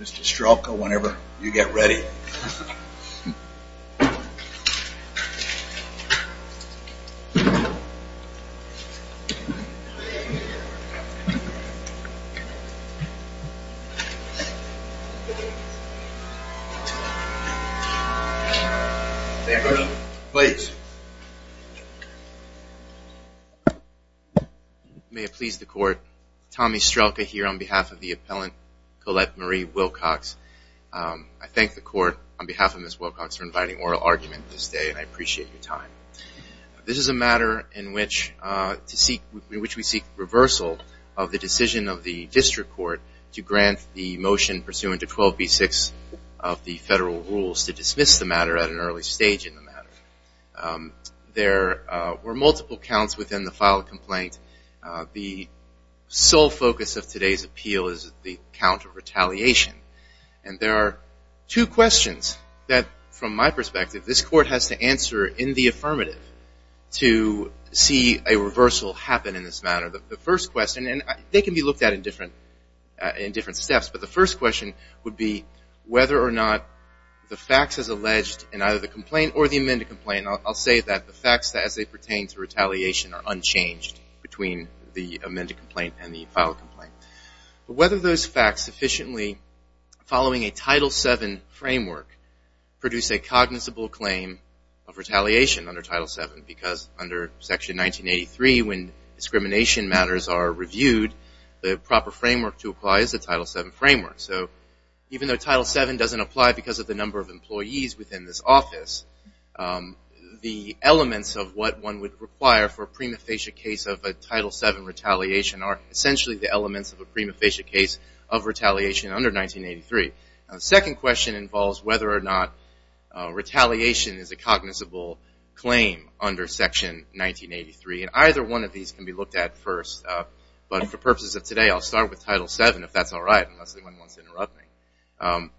Mr. Strelka, whenever you get ready. May it please the Court, Tommy Strelka here on behalf of the appellant Colette Marie Wilcox. I thank the Court on behalf of Ms. Wilcox for inviting oral argument this day and I appreciate your time. This is a matter in which we seek reversal of the decision of the District Court to grant the motion pursuant to 12b6 of the federal rules to dismiss the matter at an early stage in the matter. There were multiple counts within the file complaint. The sole focus of today's appeal is the count of retaliation and there are two questions that from my perspective this Court has to answer in the affirmative to see a reversal happen in this matter. The first question, and they can be looked at in different steps, but the first question would be whether or not the facts as alleged in either the complaint or the amended complaint, I'll say that the facts as they pertain to retaliation are the amended complaint and the file complaint, whether those facts sufficiently following a Title VII framework produce a cognizable claim of retaliation under Title VII because under Section 1983 when discrimination matters are reviewed, the proper framework to apply is the Title VII framework. So even though Title VII doesn't apply because of the number of employees within this office, the elements of what one would require for a prima facie case of a Title VII retaliation are essentially the elements of a prima facie case of retaliation under 1983. The second question involves whether or not retaliation is a cognizable claim under Section 1983 and either one of these can be looked at first, but for purposes of today I'll start with Title VII if that's all right, unless anyone wants to interrupt me.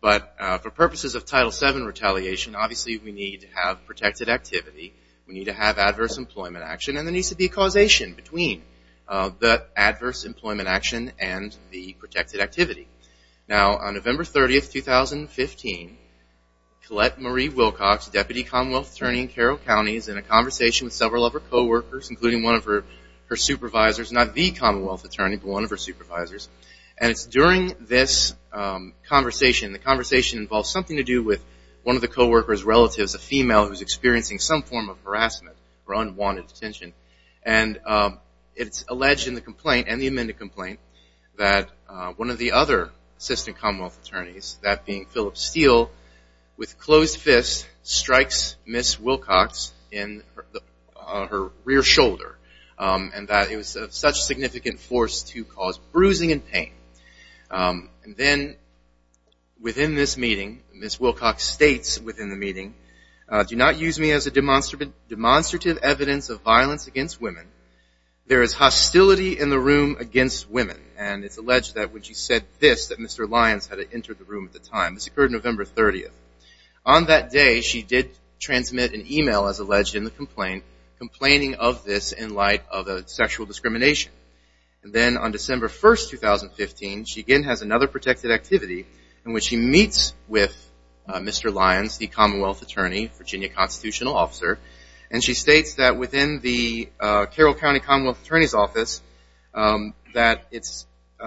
But for purposes of Title VII retaliation, obviously we need to have protected activity, we need to have adverse employment action, and there needs to be causation between the adverse employment action and the protected activity. Now on November 30, 2015, Colette Marie Wilcox, Deputy Commonwealth Attorney in Carroll County, is in a conversation with several of her co-workers, including one of her supervisors, not the Commonwealth Attorney, but one of her supervisors, and it's during this conversation, the conversation involves something to do with one of the co-workers' relatives, a female who's experiencing some form of harassment or unwanted detention, and it's alleged in the complaint, in the amended complaint, that one of the other Assistant Commonwealth Attorneys, that being Philip Steele, with closed fists, strikes Ms. Wilcox in her rear shoulder and that it was of such significant force to cause bruising and pain. And then within this meeting, Ms. Wilcox states within the meeting, do not use me as a demonstrative evidence of violence against women. There is hostility in the room against women, and it's alleged that when she said this, that Mr. Lyons had entered the room at the time. This occurred November 30. On that day, she did transmit an email, as alleged in the complaint, complaining of this in light of the sexual discrimination. Then on December 1, 2015, she again has another protected activity in which she meets with Mr. Lyons, the Commonwealth Attorney, Virginia Constitutional Officer, and she states that within the Carroll County Commonwealth Attorney's Office, that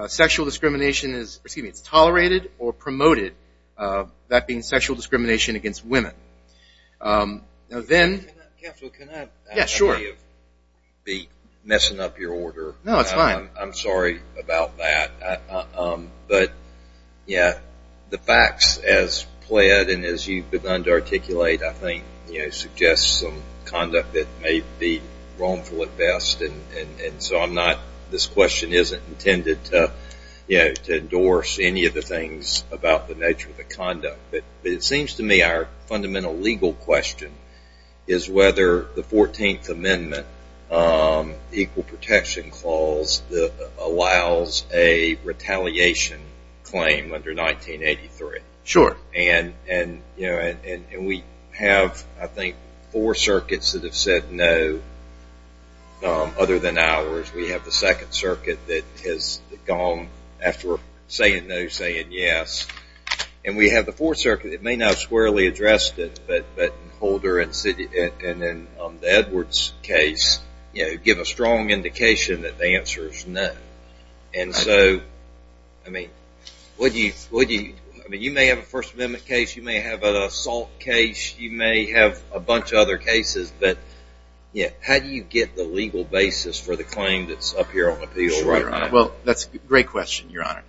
sexual discrimination is tolerated or promoted, that being sexual discrimination against women. Now then... Yes, sure. I may be messing up your order. No, it's fine. I'm sorry about that. But, yeah, the facts as pled and as you've begun to articulate, I think, you know, suggest some conduct that may be wrongful at best, and so I'm not... this question isn't intended to, you know, to endorse any of the things about the nature of the conduct. But it seems to me our fundamental legal question is whether the 14th Amendment, the Equal Protection Clause, allows a retaliation claim under 1983. Sure. And, you know, and we have, I think, four circuits that have said no, other than ours. We have the Second Circuit that has gone, after saying no, saying yes. And we have the Fourth Circuit that may not have squarely addressed it, but Holder and the Edwards case, you know, give a strong indication that the answer is no. And so, I mean, would you... I mean, you may have a First Amendment case, you may have an assault case, you may have a bunch of other cases, but how do you get the legal basis for the claim that's up here on appeal right now? Well, that's a great question, Your Honor.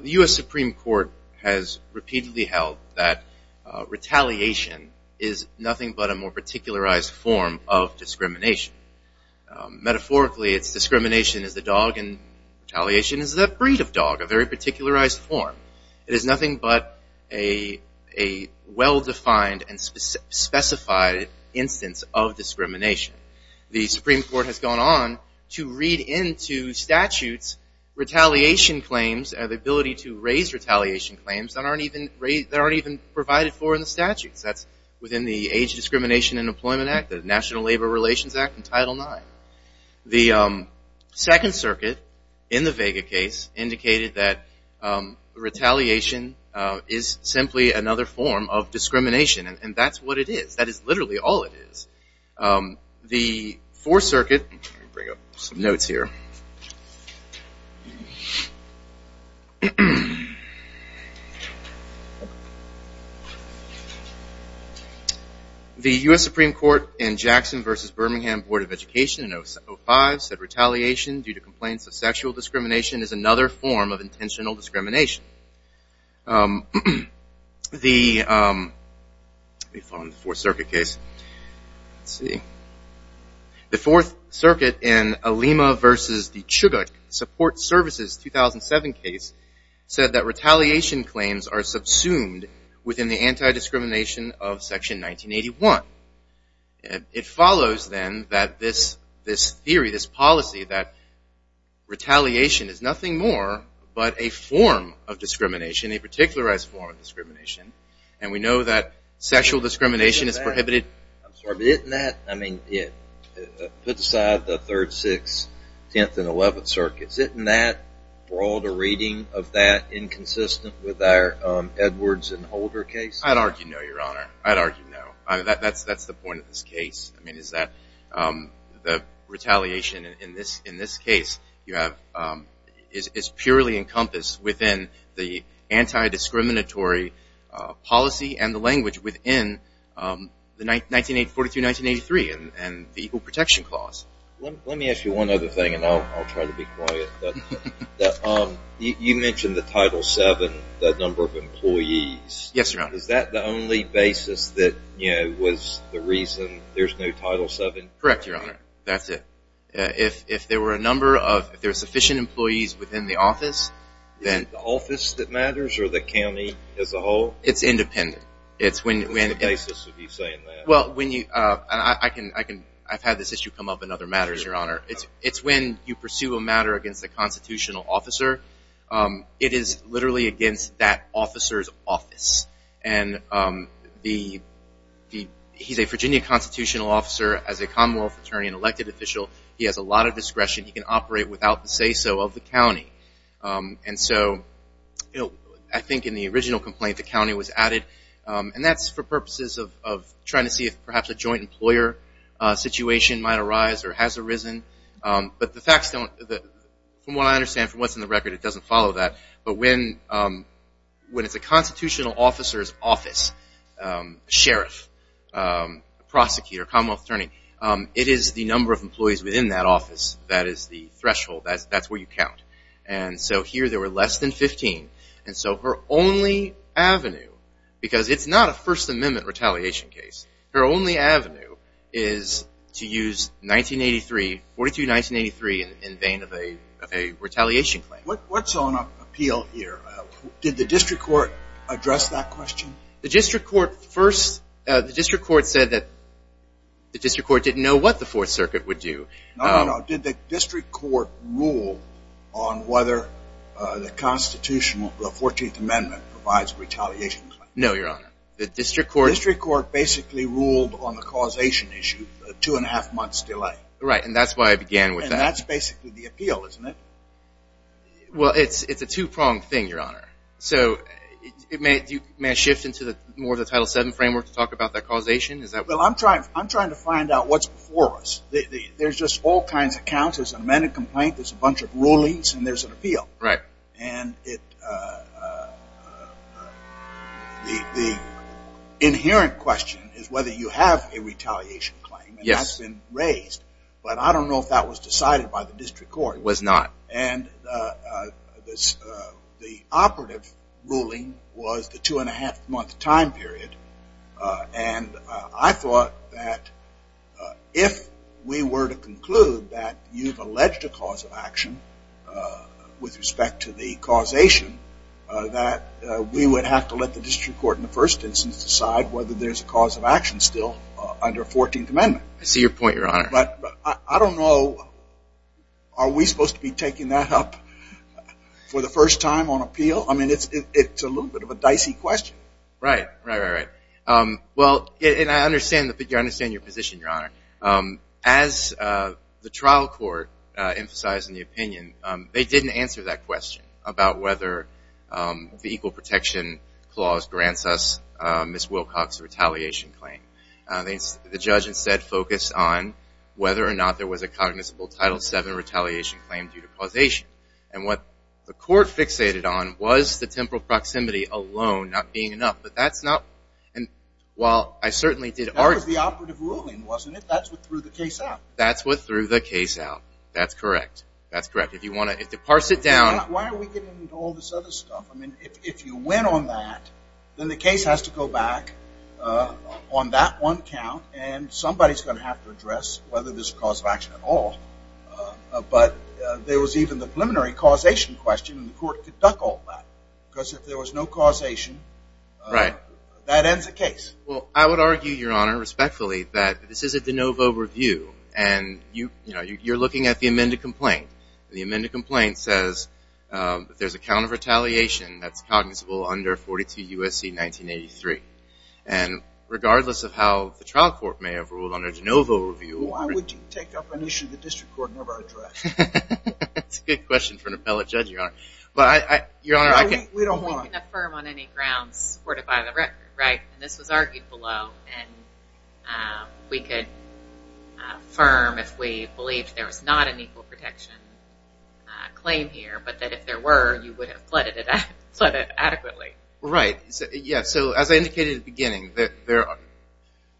The U.S. Supreme Court has repeatedly held that retaliation is nothing but a more particularized form of discrimination. Metaphorically, it's discrimination is the dog and retaliation is the breed of dog, a very particularized form. It is nothing but a well-defined and specified instance of discrimination. The Supreme Court has gone on to read into statutes retaliation claims and the ability to raise retaliation claims that aren't even provided for in the statutes. That's within the Age Discrimination and National Labor Relations Act in Title IX. The Second Circuit in the Vega case indicated that retaliation is simply another form of discrimination and that's what it is. That is literally all it is. The Fourth Circuit... Let me bring up some notes here. The U.S. Supreme Court in Jackson v. Birmingham Board of Education in 05 said retaliation due to complaints of sexual discrimination is another form of intentional discrimination. The... Let me follow up on the Fourth Circuit case. The Fourth Circuit in Alema v. Chugach Support Services 2007 case said that retaliation claims are subsumed within the anti-discrimination of Section 1981. It follows then that this theory, this policy that retaliation is nothing more but a form of discrimination, a particularized form of discrimination and we know that sexual discrimination is prohibited... I'm sorry, but isn't that... Put aside the Third, Sixth, Tenth, and Eleventh Circuits, isn't that, or all the reading of that inconsistent with our Edwards and Holder case? I'd argue no, Your Honor. I'd argue no. That's the point of this case. I mean, is that the retaliation in this case you have is purely encompassed within the anti-discriminatory policy and the language within the 1948-1983 and the Equal Protection Clause. Let me ask you one other thing and I'll try to be quiet. You mentioned the Title VII, that number of employees. Yes, Your Honor. Is that the only basis that was the reason there's no Title VII? Correct, Your Honor. That's it. If there were a number of, if there were sufficient employees within the office, then... Is it the office that matters or the county as a whole? It's independent. It's when... What's the basis of you saying that? I've had this issue come up in other matters, Your Honor. It's when you pursue a matter against a constitutional officer, it is literally against that officer's office. And he's a Virginia constitutional officer as a Commonwealth attorney and elected official. He has a lot of discretion. He can operate without the say-so of the county. And so, I think in the original complaint, the county was added. And that's for purposes of trying to see if perhaps a joint employer situation might arise or has arisen. But the facts don't... From what I understand, for once in the record, it doesn't follow that. But when it's a constitutional officer's office, sheriff, prosecutor, Commonwealth attorney, it is the number of employees within that office that is the threshold. That's where you count. And so here there were less than 15. And so her only avenue, because it's not a First Amendment retaliation case, her only avenue is to use 1983, 42-1983, in vain of a retaliation claim. What's on appeal here? Did the district court address that question? The district court first... The district court said that the district court didn't know what the Fourth Circuit would do. No, no, no. Did the district court rule on whether the Constitutional, the Fourteenth Amendment provides retaliation? No, Your Honor. The district court... The district court basically ruled on the causation issue, a two-and-a-half months delay. Right, and that's why I began with that. And that's basically the appeal, isn't it? Well, it's a two-pronged thing, Your Honor. So may I shift into more of the Title VII framework to talk about the causation? Is that... Well, I'm trying to find out what's before us. There's just all kinds of counts. There's an amended complaint, there's a bunch of things. Right. And it, uh... The inherent question is whether you have a retaliation claim, and that's been raised. But I don't know if that was decided by the district court. It was not. And the operative ruling was the two-and-a-half month time period. And I thought that if we were to conclude that you've alleged a cause of action with respect to the causation, that we would have to let the district court in the first instance decide whether there's a cause of action still under Fourteenth Amendment. I see your point, Your Honor. But I don't know... Are we supposed to be taking that up for the first time on appeal? I mean, it's a little bit of a dicey question. Right, right, right, right. Well, and I understand your position, Your Honor. As the trial court emphasized in the opinion, they didn't answer that question about whether the Equal Protection Clause grants us Ms. Wilcox's retaliation claim. The judge instead focused on whether or not there was a cognizant Title VII retaliation claim due to causation. And what the court fixated on was the temporal proximity alone not being enough. But that's not... Well, I certainly did argue... That was the operative ruling, wasn't it? That's what threw the case out. That's what threw the case out. That's correct. That's correct. If you want to... To parse it down... Why are we getting into all this other stuff? I mean, if you win on that, then the case has to go back on that one count, and somebody's going to have to address whether there's a cause of action at all. But there was even the preliminary causation question, and the court could duck all that. Because if there was no causation, that ends the case. Well, I would argue, Your Honor, respectfully, that this is a de novo review. And you're looking at the amended complaint. The amended complaint says that there's a count of retaliation that's cognizable under 42 U.S.C. 1983. And regardless of how the trial court may have ruled on a de novo review... Why would you take up an issue the district court never addressed? That's a good question for an appellate judge, Your Honor. But, Your Honor, I can't... We can affirm on any grounds supported by the record, right? And this was argued below, and we could affirm if we believed there was not an equal protection claim here, but that if there were, you would have flooded it adequately. Right. Yeah, so as I indicated at the beginning, that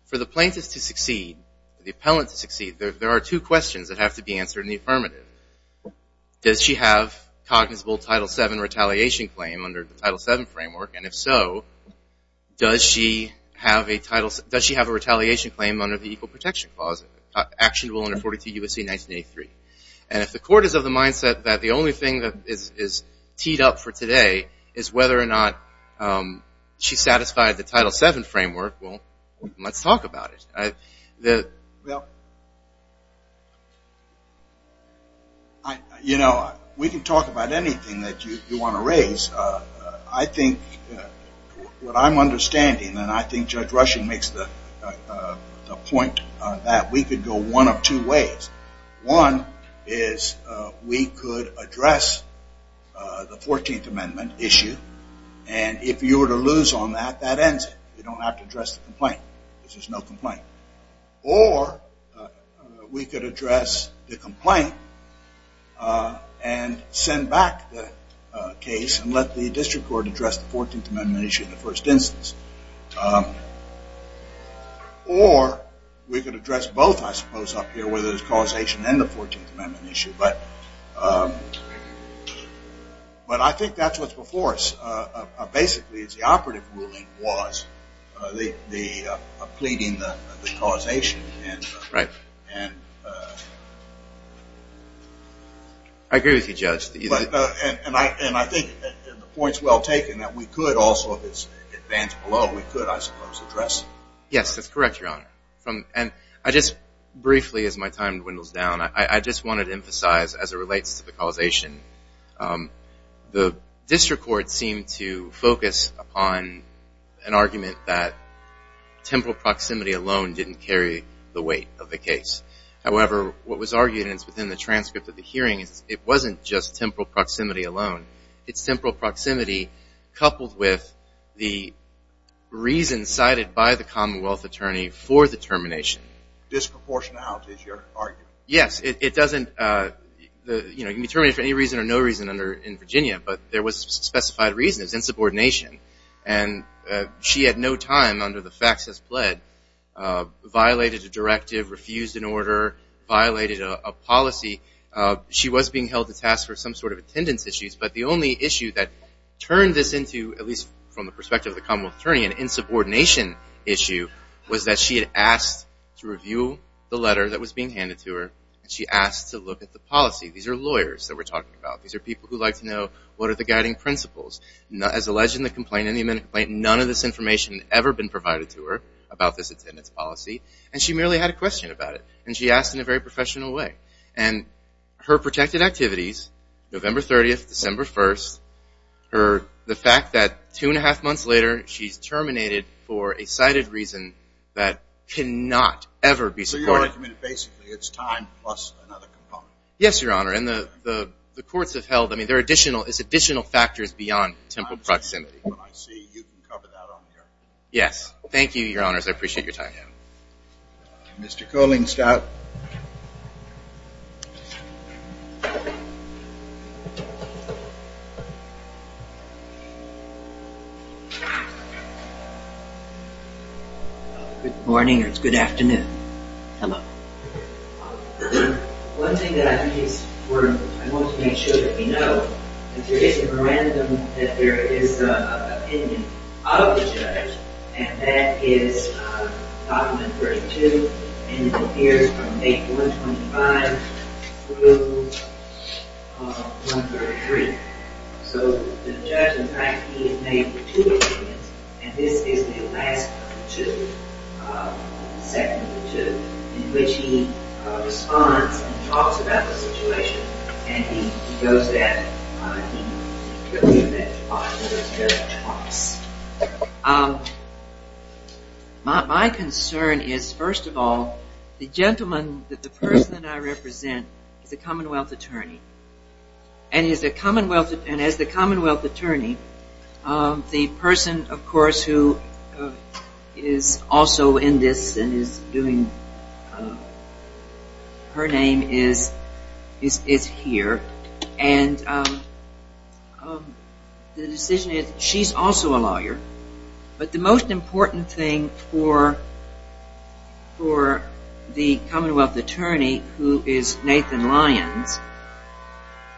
for the plaintiff to succeed, the appellant to succeed, there are two questions that have to be answered in the affirmative. Does she have cognizable Title VII retaliation claim under the Title VII framework? And if so, does she have a retaliation claim under the equal protection clause, actionable under 42 U.S.C. 1983? And if the court is of the mindset that the only thing that is teed up for today is whether or not she satisfied the Title VII framework, well, let's talk about it. Well, you know, we can talk about anything that you want to raise. I think what I'm understanding, and I think Judge Rushing makes the point, that we could go one of two ways. One is we could address the 14th Amendment issue, and if you were to lose on that, that ends it. You don't have to address the complaint. There's just no complaint. Or we could address the complaint and send back the case and let the district court address the 14th Amendment issue in the first instance. Or we could address both, I suppose, up here, whether it's causation and the 14th Amendment issue. But I think that's what's before us. Basically, it's the operative ruling was the pleading the causation and the- Right. I agree with you, Judge. And I think the point's well taken, that we could also, if it stands below, we could, I suppose, address it. Yes, that's correct, Your Honor. And I just briefly, as my time dwindles down, I just wanted to emphasize, as it relates to the causation, the district court seemed to focus upon an argument that temporal proximity alone didn't carry the weight of the case. However, what was argued, and it's within the transcript of the hearing, it wasn't just temporal proximity alone. It's temporal proximity coupled with the reason cited by the Commonwealth attorney for the termination. Disproportionality is your argument. Yes, it doesn't, you can determine it for any reason or no reason in Virginia. But there was specified reasons, insubordination. And she had no time under the facts as pled, violated a directive, refused an order, violated a policy. She was being held to task for some sort of attendance issues. But the only issue that turned this into, at least from the perspective of the Commonwealth attorney, an insubordination issue, was that she asked to review the letter that was being handed to her. She asked to look at the policy. These are lawyers that we're talking about. These are people who like to know what are the guiding principles. As alleged in the complaint, none of this information ever been provided to her about this attendance policy. And she merely had a question about it. And she asked in a very professional way. And her protected activities, November 30th, December 1st, the fact that two and a half months later, she's terminated for a cited reason that cannot ever be supported. So you're arguing that basically it's time plus another component. Yes, Your Honor. And the courts have held. I mean, there are additional factors beyond temporal proximity. I see. You can cover that on your end. Yes. Thank you, Your Honors. I appreciate your time. Mr. Kohlingstout. Good morning, or is it good afternoon? Come up. One thing that I want to make sure that we know is there is a memorandum that there is an opinion of the judge. And that is document 32. And it appears from May 1, 25 through 1, 33. So the judge, in fact, he has made two opinions. And this is the last of the two, the second of the two, in which he responds and talks about the situation. And he goes that, he put me in that spot where the judge talks. My concern is, first of all, the gentleman that the person that I represent is a Commonwealth attorney. And he's a Commonwealth, and as the Commonwealth attorney, the person, of course, who is also in this and is doing, her name is here. And the decision is, she's also a lawyer. But the most important thing for the Commonwealth attorney, who is Nathan Lyons,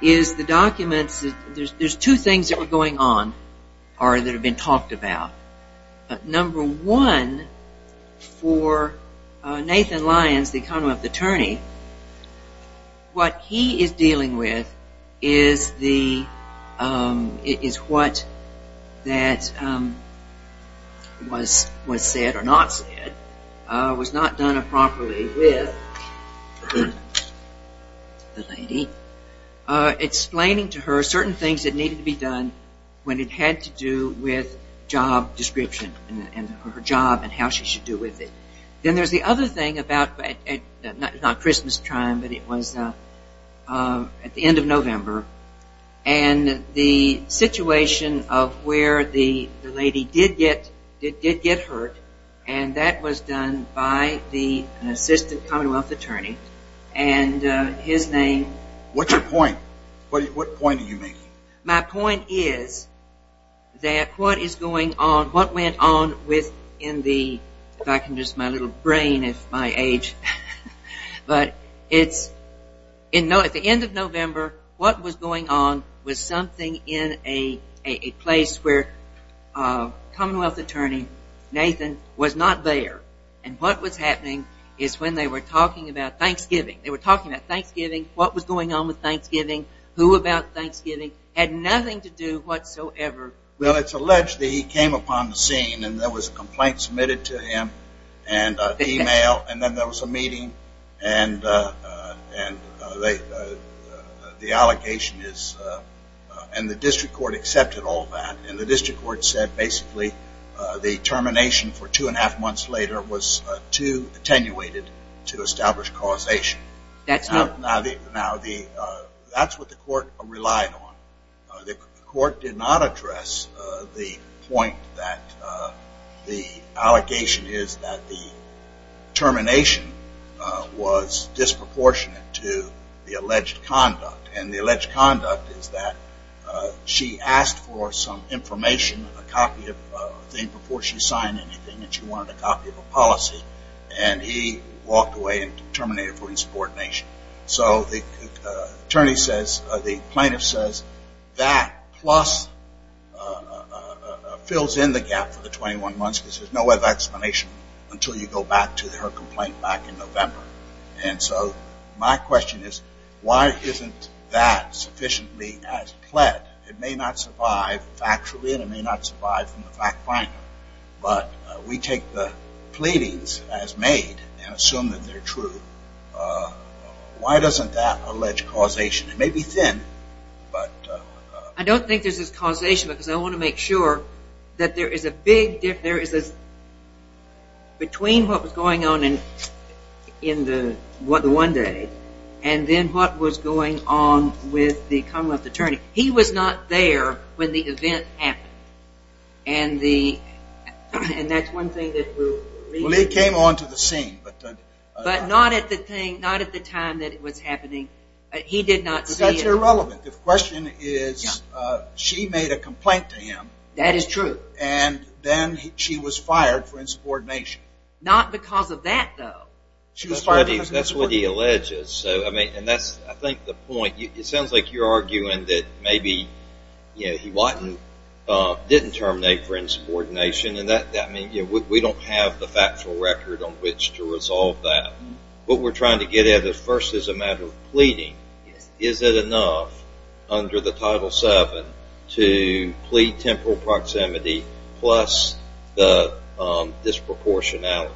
is the documents. There's two things that were going on or that have been talked about. Number one, for Nathan Lyons, the Commonwealth attorney, what he is dealing with is what was said or not said, was not done appropriately with the lady, explaining to her certain things that needed to be done when it had to do with job description, and her job, and how she should do with it. Then there's the other thing about, not Christmas time, but it was at the end of November. And the situation of where the lady did get hurt, and that was done by the assistant Commonwealth attorney. And his name. What's your point? What point are you making? My point is that what is going on, what went on within the, if I can use my little brain at my age, but it's, at the end of November, what was going on was something in a place where Commonwealth attorney Nathan was not there. And what was happening is when they were talking about Thanksgiving, they were talking about Thanksgiving, what was going on with Thanksgiving, who about Thanksgiving, had nothing to do whatsoever. Well, it's alleged that he came upon the scene, and there was a complaint submitted to him, and email, and then there was a meeting. And the allocation is, and the district court accepted all that, and the district court said basically the termination for two and a half months later was too attenuated to establish causation. That's not. Now, that's what the court relied on. The court did not address the point that the allegation is that the termination was disproportionate to the alleged conduct. And the alleged conduct is that she asked for some information, a copy of a thing before she signed anything, and she wanted a copy of a policy. And he walked away and terminated for insubordination. So the attorney says, the plaintiff says, that plus fills in the gap for the 21 months because there's no other explanation until you go back to her complaint back in November. And so my question is, why isn't that sufficiently as pled? It may not survive factually, and it may not survive from the fact finder. But we take the pleadings as made and assume that they're true. Why doesn't that allege causation? It may be thin, but. I don't think there's causation because I want to make sure that there is a big difference between what was going on in the one day and then what was going on with the Commonwealth attorney. He was not there when the event happened. And that's one thing that we'll leave it there. Well, he came onto the scene. But not at the time that it was happening. He did not see it. But that's irrelevant. The question is, she made a complaint to him. That is true. And then she was fired for insubordination. Not because of that, though. She was fired because of insubordination. That's what he alleges. I think the point, it sounds like you're arguing that maybe he didn't terminate for insubordination. And we don't have the factual record on which to resolve that. What we're trying to get at first is a matter of pleading. Is it enough under the Title VII to plead temporal proximity plus the disproportionality?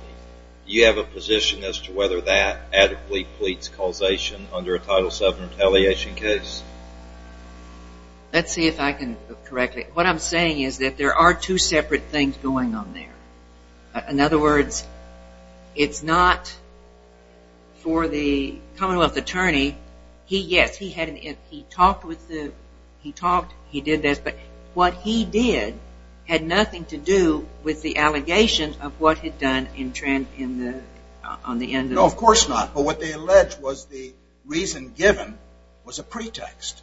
You have a position as to whether that adequately pleads causation under a Title VII retaliation case? Let's see if I can correct it. What I'm saying is that there are two separate things going on there. In other words, it's not for the Commonwealth attorney. He, yes, he talked. He did this. But what he did had nothing to do with the allegation of what had done in Trent on the end. No, of course not. But what they allege was the reason given was a pretext.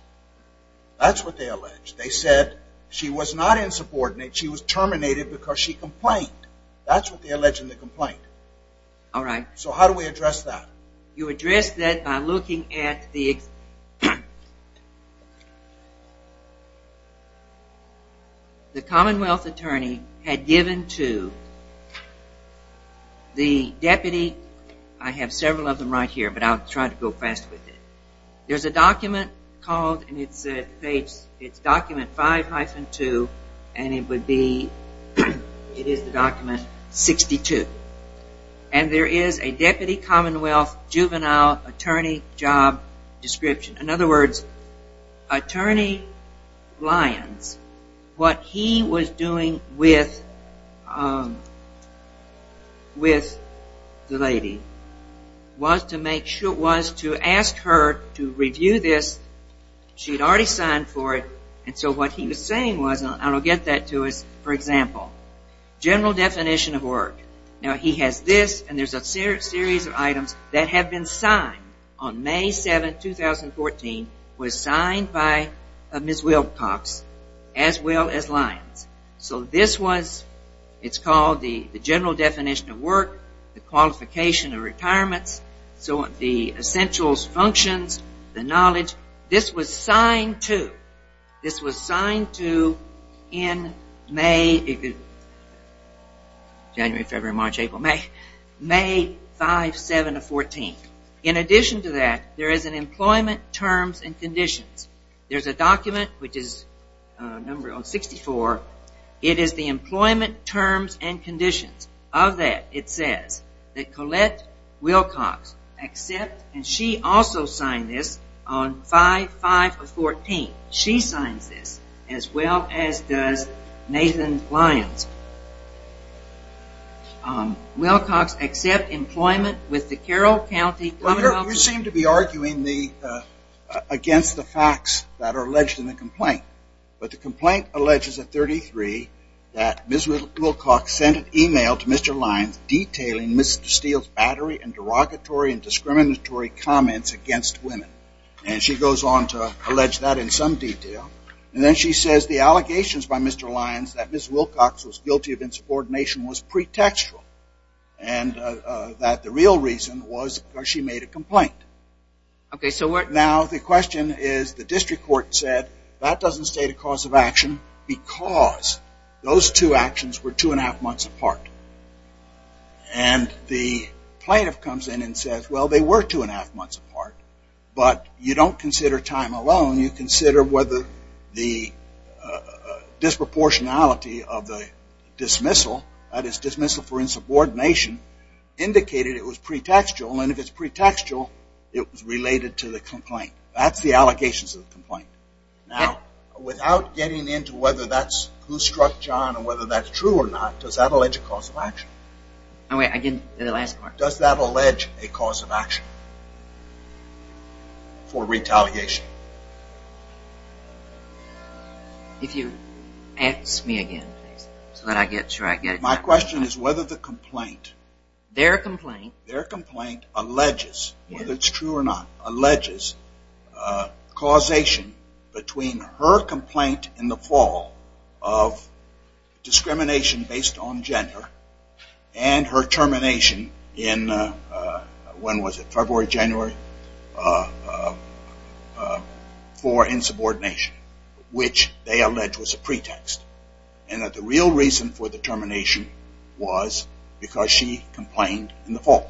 That's what they allege. They said she was not insubordinate. She was terminated because she complained. That's what they allege in the complaint. All right. So how do we address that? You address that by looking at the Commonwealth attorney had given to the deputy. I have several of them right here, but I'll try to go fast with it. There's a document called, and it's document 5-2, and it would be, it is the document 62. And there is a deputy Commonwealth juvenile attorney job description. In other words, attorney Lyons, what he was doing with the lady was to make sure, was to ask her to review this. She'd already signed for it. And so what he was saying was, and I'll get that to us, for example, general definition of work. Now he has this, and there's a series of items that have been signed on May 7, 2014, was signed by Ms. Wilcox, as well as Lyons. So this was, it's called the general definition of work, the qualification of retirements, so the essentials functions, the knowledge. This was signed to. In May, January, February, March, April, May, May 5, 7 of 14. In addition to that, there is an employment terms and conditions. There's a document, which is number 64. It is the employment terms and conditions. Of that, it says that Colette Wilcox accept, and she also signed this on 5-5 of 14. She signs this, as well as does Nathan Lyons. Wilcox accept employment with the Carroll County. You seem to be arguing against the facts that are alleged in the complaint. But the complaint alleges at 33 that Ms. Wilcox sent an email to Mr. Lyons detailing Ms. Steele's battery and derogatory and discriminatory comments against women. And she goes on to allege that in some detail. And then she says the allegations by Mr. Lyons that Ms. Wilcox was guilty of insubordination was pretextual, and that the real reason was because she made a complaint. Now, the question is, the district court said that doesn't state a cause of action because those two actions were two and a half months apart. And the plaintiff comes in and says, well, they were two and a half months apart, but you don't consider time alone. You consider whether the disproportionality of the dismissal, that is dismissal for insubordination, indicated it was pretextual. And if it's pretextual, it was related to the complaint. That's the allegations of the complaint. Now, without getting into whether that's who struck John or whether that's true or not, does that allege a cause of action? Oh, wait, again, the last part. Does that allege a cause of action for retaliation? If you ask me again, so that I get your idea. My question is whether the complaint. Their complaint. Their complaint alleges, whether it's true or not, alleges causation between her complaint in the fall of discrimination based on gender and her termination in, when was it, February, January, for insubordination, which they allege was a pretext. And that the real reason for the termination was because she complained in the fall.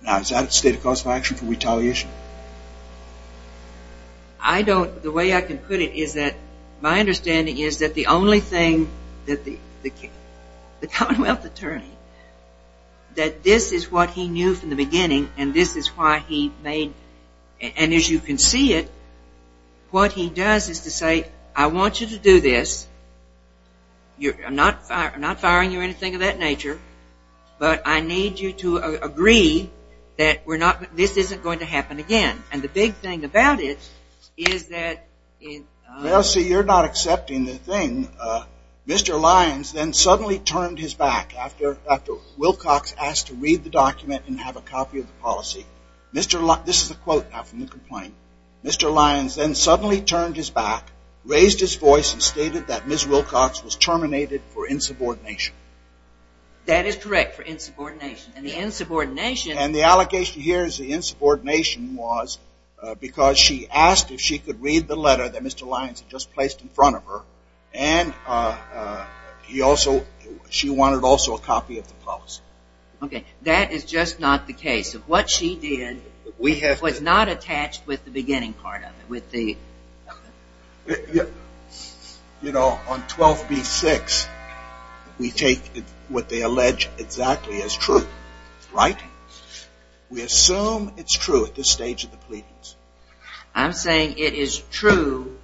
Now, is that a state of cause of action for retaliation? I don't. The way I can put it is that my understanding is that the only thing that the commonwealth attorney, that this is what he knew from the beginning, and this is why he made, and as you can see it, what he does is to say, I want you to do this. I'm not firing you or anything of that nature, but I need you to agree that this isn't going to happen again. And the big thing about it is that it. Well, see, you're not accepting the thing. Mr. Lyons then suddenly turned his back after Wilcox asked to read the document and have a copy of the policy. This is a quote now from the complaint. Mr. Lyons then suddenly turned his back, raised his voice, and stated that Ms. Wilcox was terminated for insubordination. That is correct, for insubordination. And the insubordination. And the allegation here is the insubordination was because she asked if she could read the letter that Mr. Lyons had just placed in front of her, and she wanted also a copy of the policy. OK, that is just not the case. Of what she did was not attached with the beginning part of it, with the- You know, on 12B-6, we take what they allege exactly as true, right? We assume it's true at this stage of the pleadings. I'm saying it is true-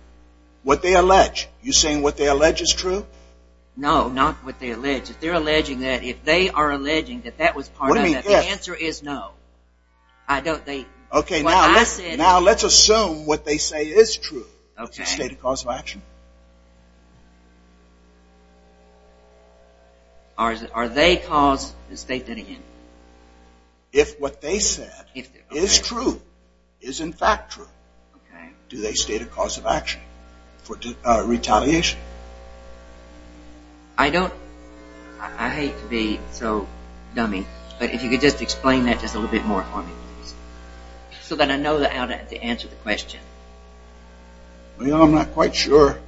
What they allege. You're saying what they allege is true? No, not what they allege. If they're alleging that, if they are alleging that that was part of it, the answer is no. I don't think- OK, now let's assume what they say is true. It's a state of cause of action. Are they cause the state that it is? If what they said is true, is in fact true, do they state a cause of action for retaliation? I don't- I hate to be so dummy, but if you could just explain that just a little bit more for me, please. So that I know how to answer the question. Well, you know, I'm not quite sure.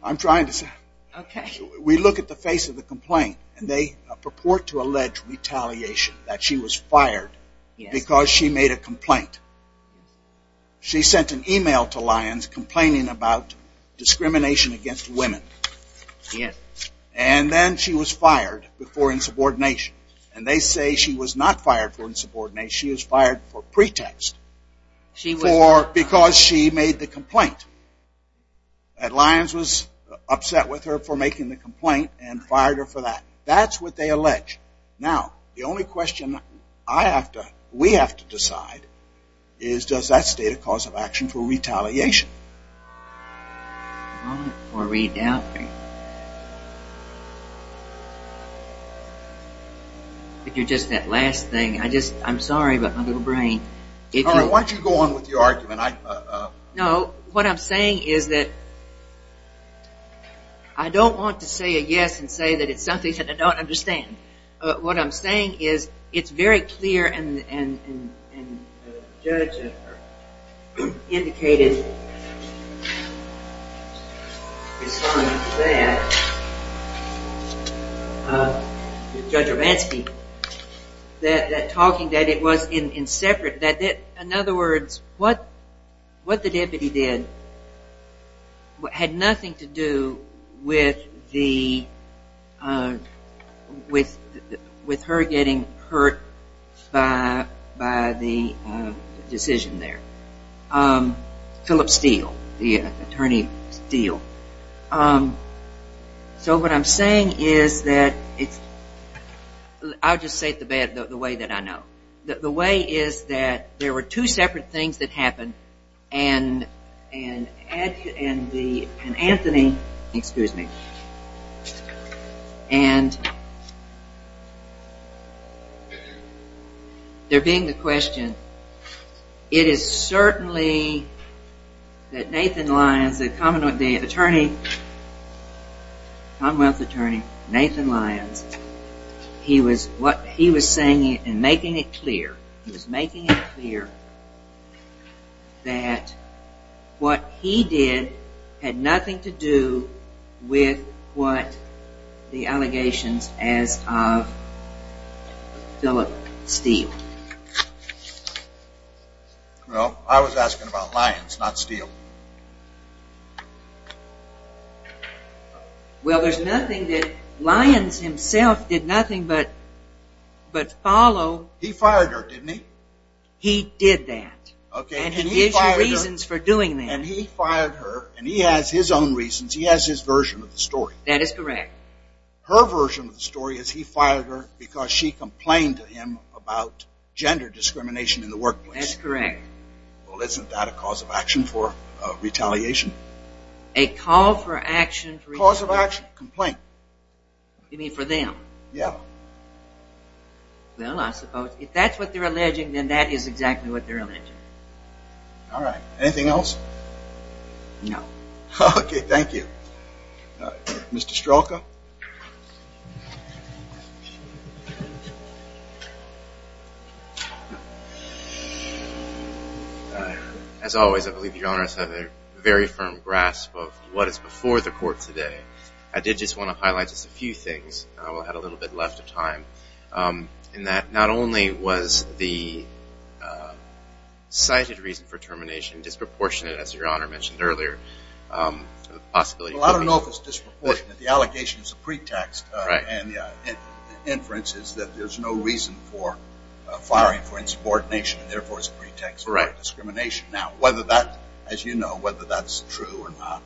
I'm trying to say. We look at the face of the complaint, and they purport to allege retaliation, that she was fired because she made a complaint. She sent an email to Lyons complaining about discrimination against women. And then she was fired for insubordination. And they say she was not fired for insubordination. She was fired for pretext, because she made the complaint. And Lyons was upset with her for making the complaint and fired her for that. That's what they allege. Now, the only question I have to, we have to decide, is does that state a cause of action for retaliation? Or redoubting. If you're just that last thing, I just, I'm sorry, but my little brain. Why don't you go on with your argument? No, what I'm saying is that I don't want to say a yes and say that it's something that I don't understand. What I'm saying is it's very clear, and the judge indicated responding to that, Judge Romanski, that talking that it was in separate, that in other words, what the deputy did had nothing to do with her getting hurt by the decision there. Philip Steele, the attorney Steele. So what I'm saying is that it's, I'll just say it the way that I know. The way is that there were two separate things that and Anthony, excuse me, and there being the question, it is certainly that Nathan Lyons, the common attorney, Commonwealth attorney, Nathan Lyons, he was saying it and making it clear, he was making it clear that what he did had nothing to do with what the allegations as of Philip Steele. Well, I was asking about Lyons, not Steele. Well, there's nothing that Lyons himself did nothing but follow. He fired her, didn't he? He did that. OK, and he fired her, and he fired her, and he has his own reasons. He has his version of the story. That is correct. Her version of the story is he fired her because she complained to him about gender discrimination in the workplace. That's correct. Well, isn't that a cause of action for retaliation? A call for action for retaliation. Cause of action, complaint. You mean for them? Yeah. Well, I suppose if that's what they're alleging, then that is exactly what they're alleging. All right, anything else? No. OK, thank you. Mr. Stralka? As always, I believe Your Honor has had a very firm grasp of what is before the court today. I did just want to highlight just a few things. I had a little bit left of time. And that not only was the cited reason for termination disproportionate, as Your Honor mentioned earlier, the possibility of having to- Well, I don't know if it's disproportionate. The allegation is a pretext. And the inference is that there's no reason for firing for insubordination, and therefore it's a pretext for discrimination. Now, whether that, as you know, whether that's true or not,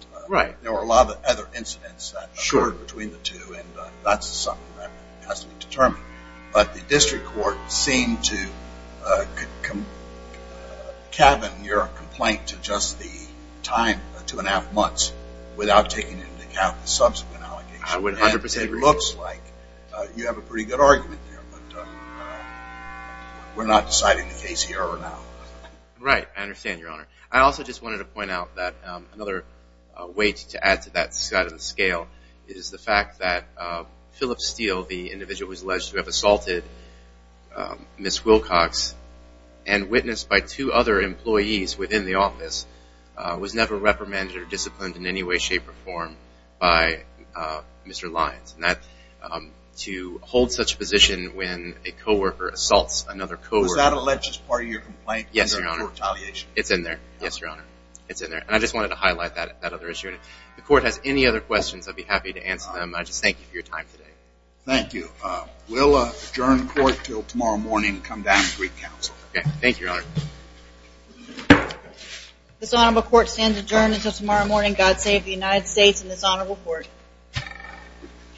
there were a lot of other incidents that occurred between the two. And that's something that has to be determined. But the district court seemed to cabin your complaint to just the time to an half months without taking into account the subsequent allegation. I would 100% agree. It looks like you have a pretty good argument there. But we're not deciding the case here or now. Right, I understand, Your Honor. I also just wanted to point out that another way to add to that side of the scale is the fact that Philip Steele, the individual who was alleged to have assaulted Ms. Wilcox and witnessed by two other employees within the office, was never reprimanded or disciplined in any way, shape, or form by Mr. Lyons. And to hold such a position when a co-worker assaults another co-worker- Was that alleged as part of your complaint under court tallying? It's in there, yes, Your Honor. It's in there. And I just wanted to highlight that other issue. If the court has any other questions, I'd be happy to answer them. I just thank you for your time today. Thank you. We'll adjourn the court until tomorrow morning and come down and brief counsel. Thank you, Your Honor. This honorable court stands adjourned until tomorrow morning. God save the United States and this honorable court.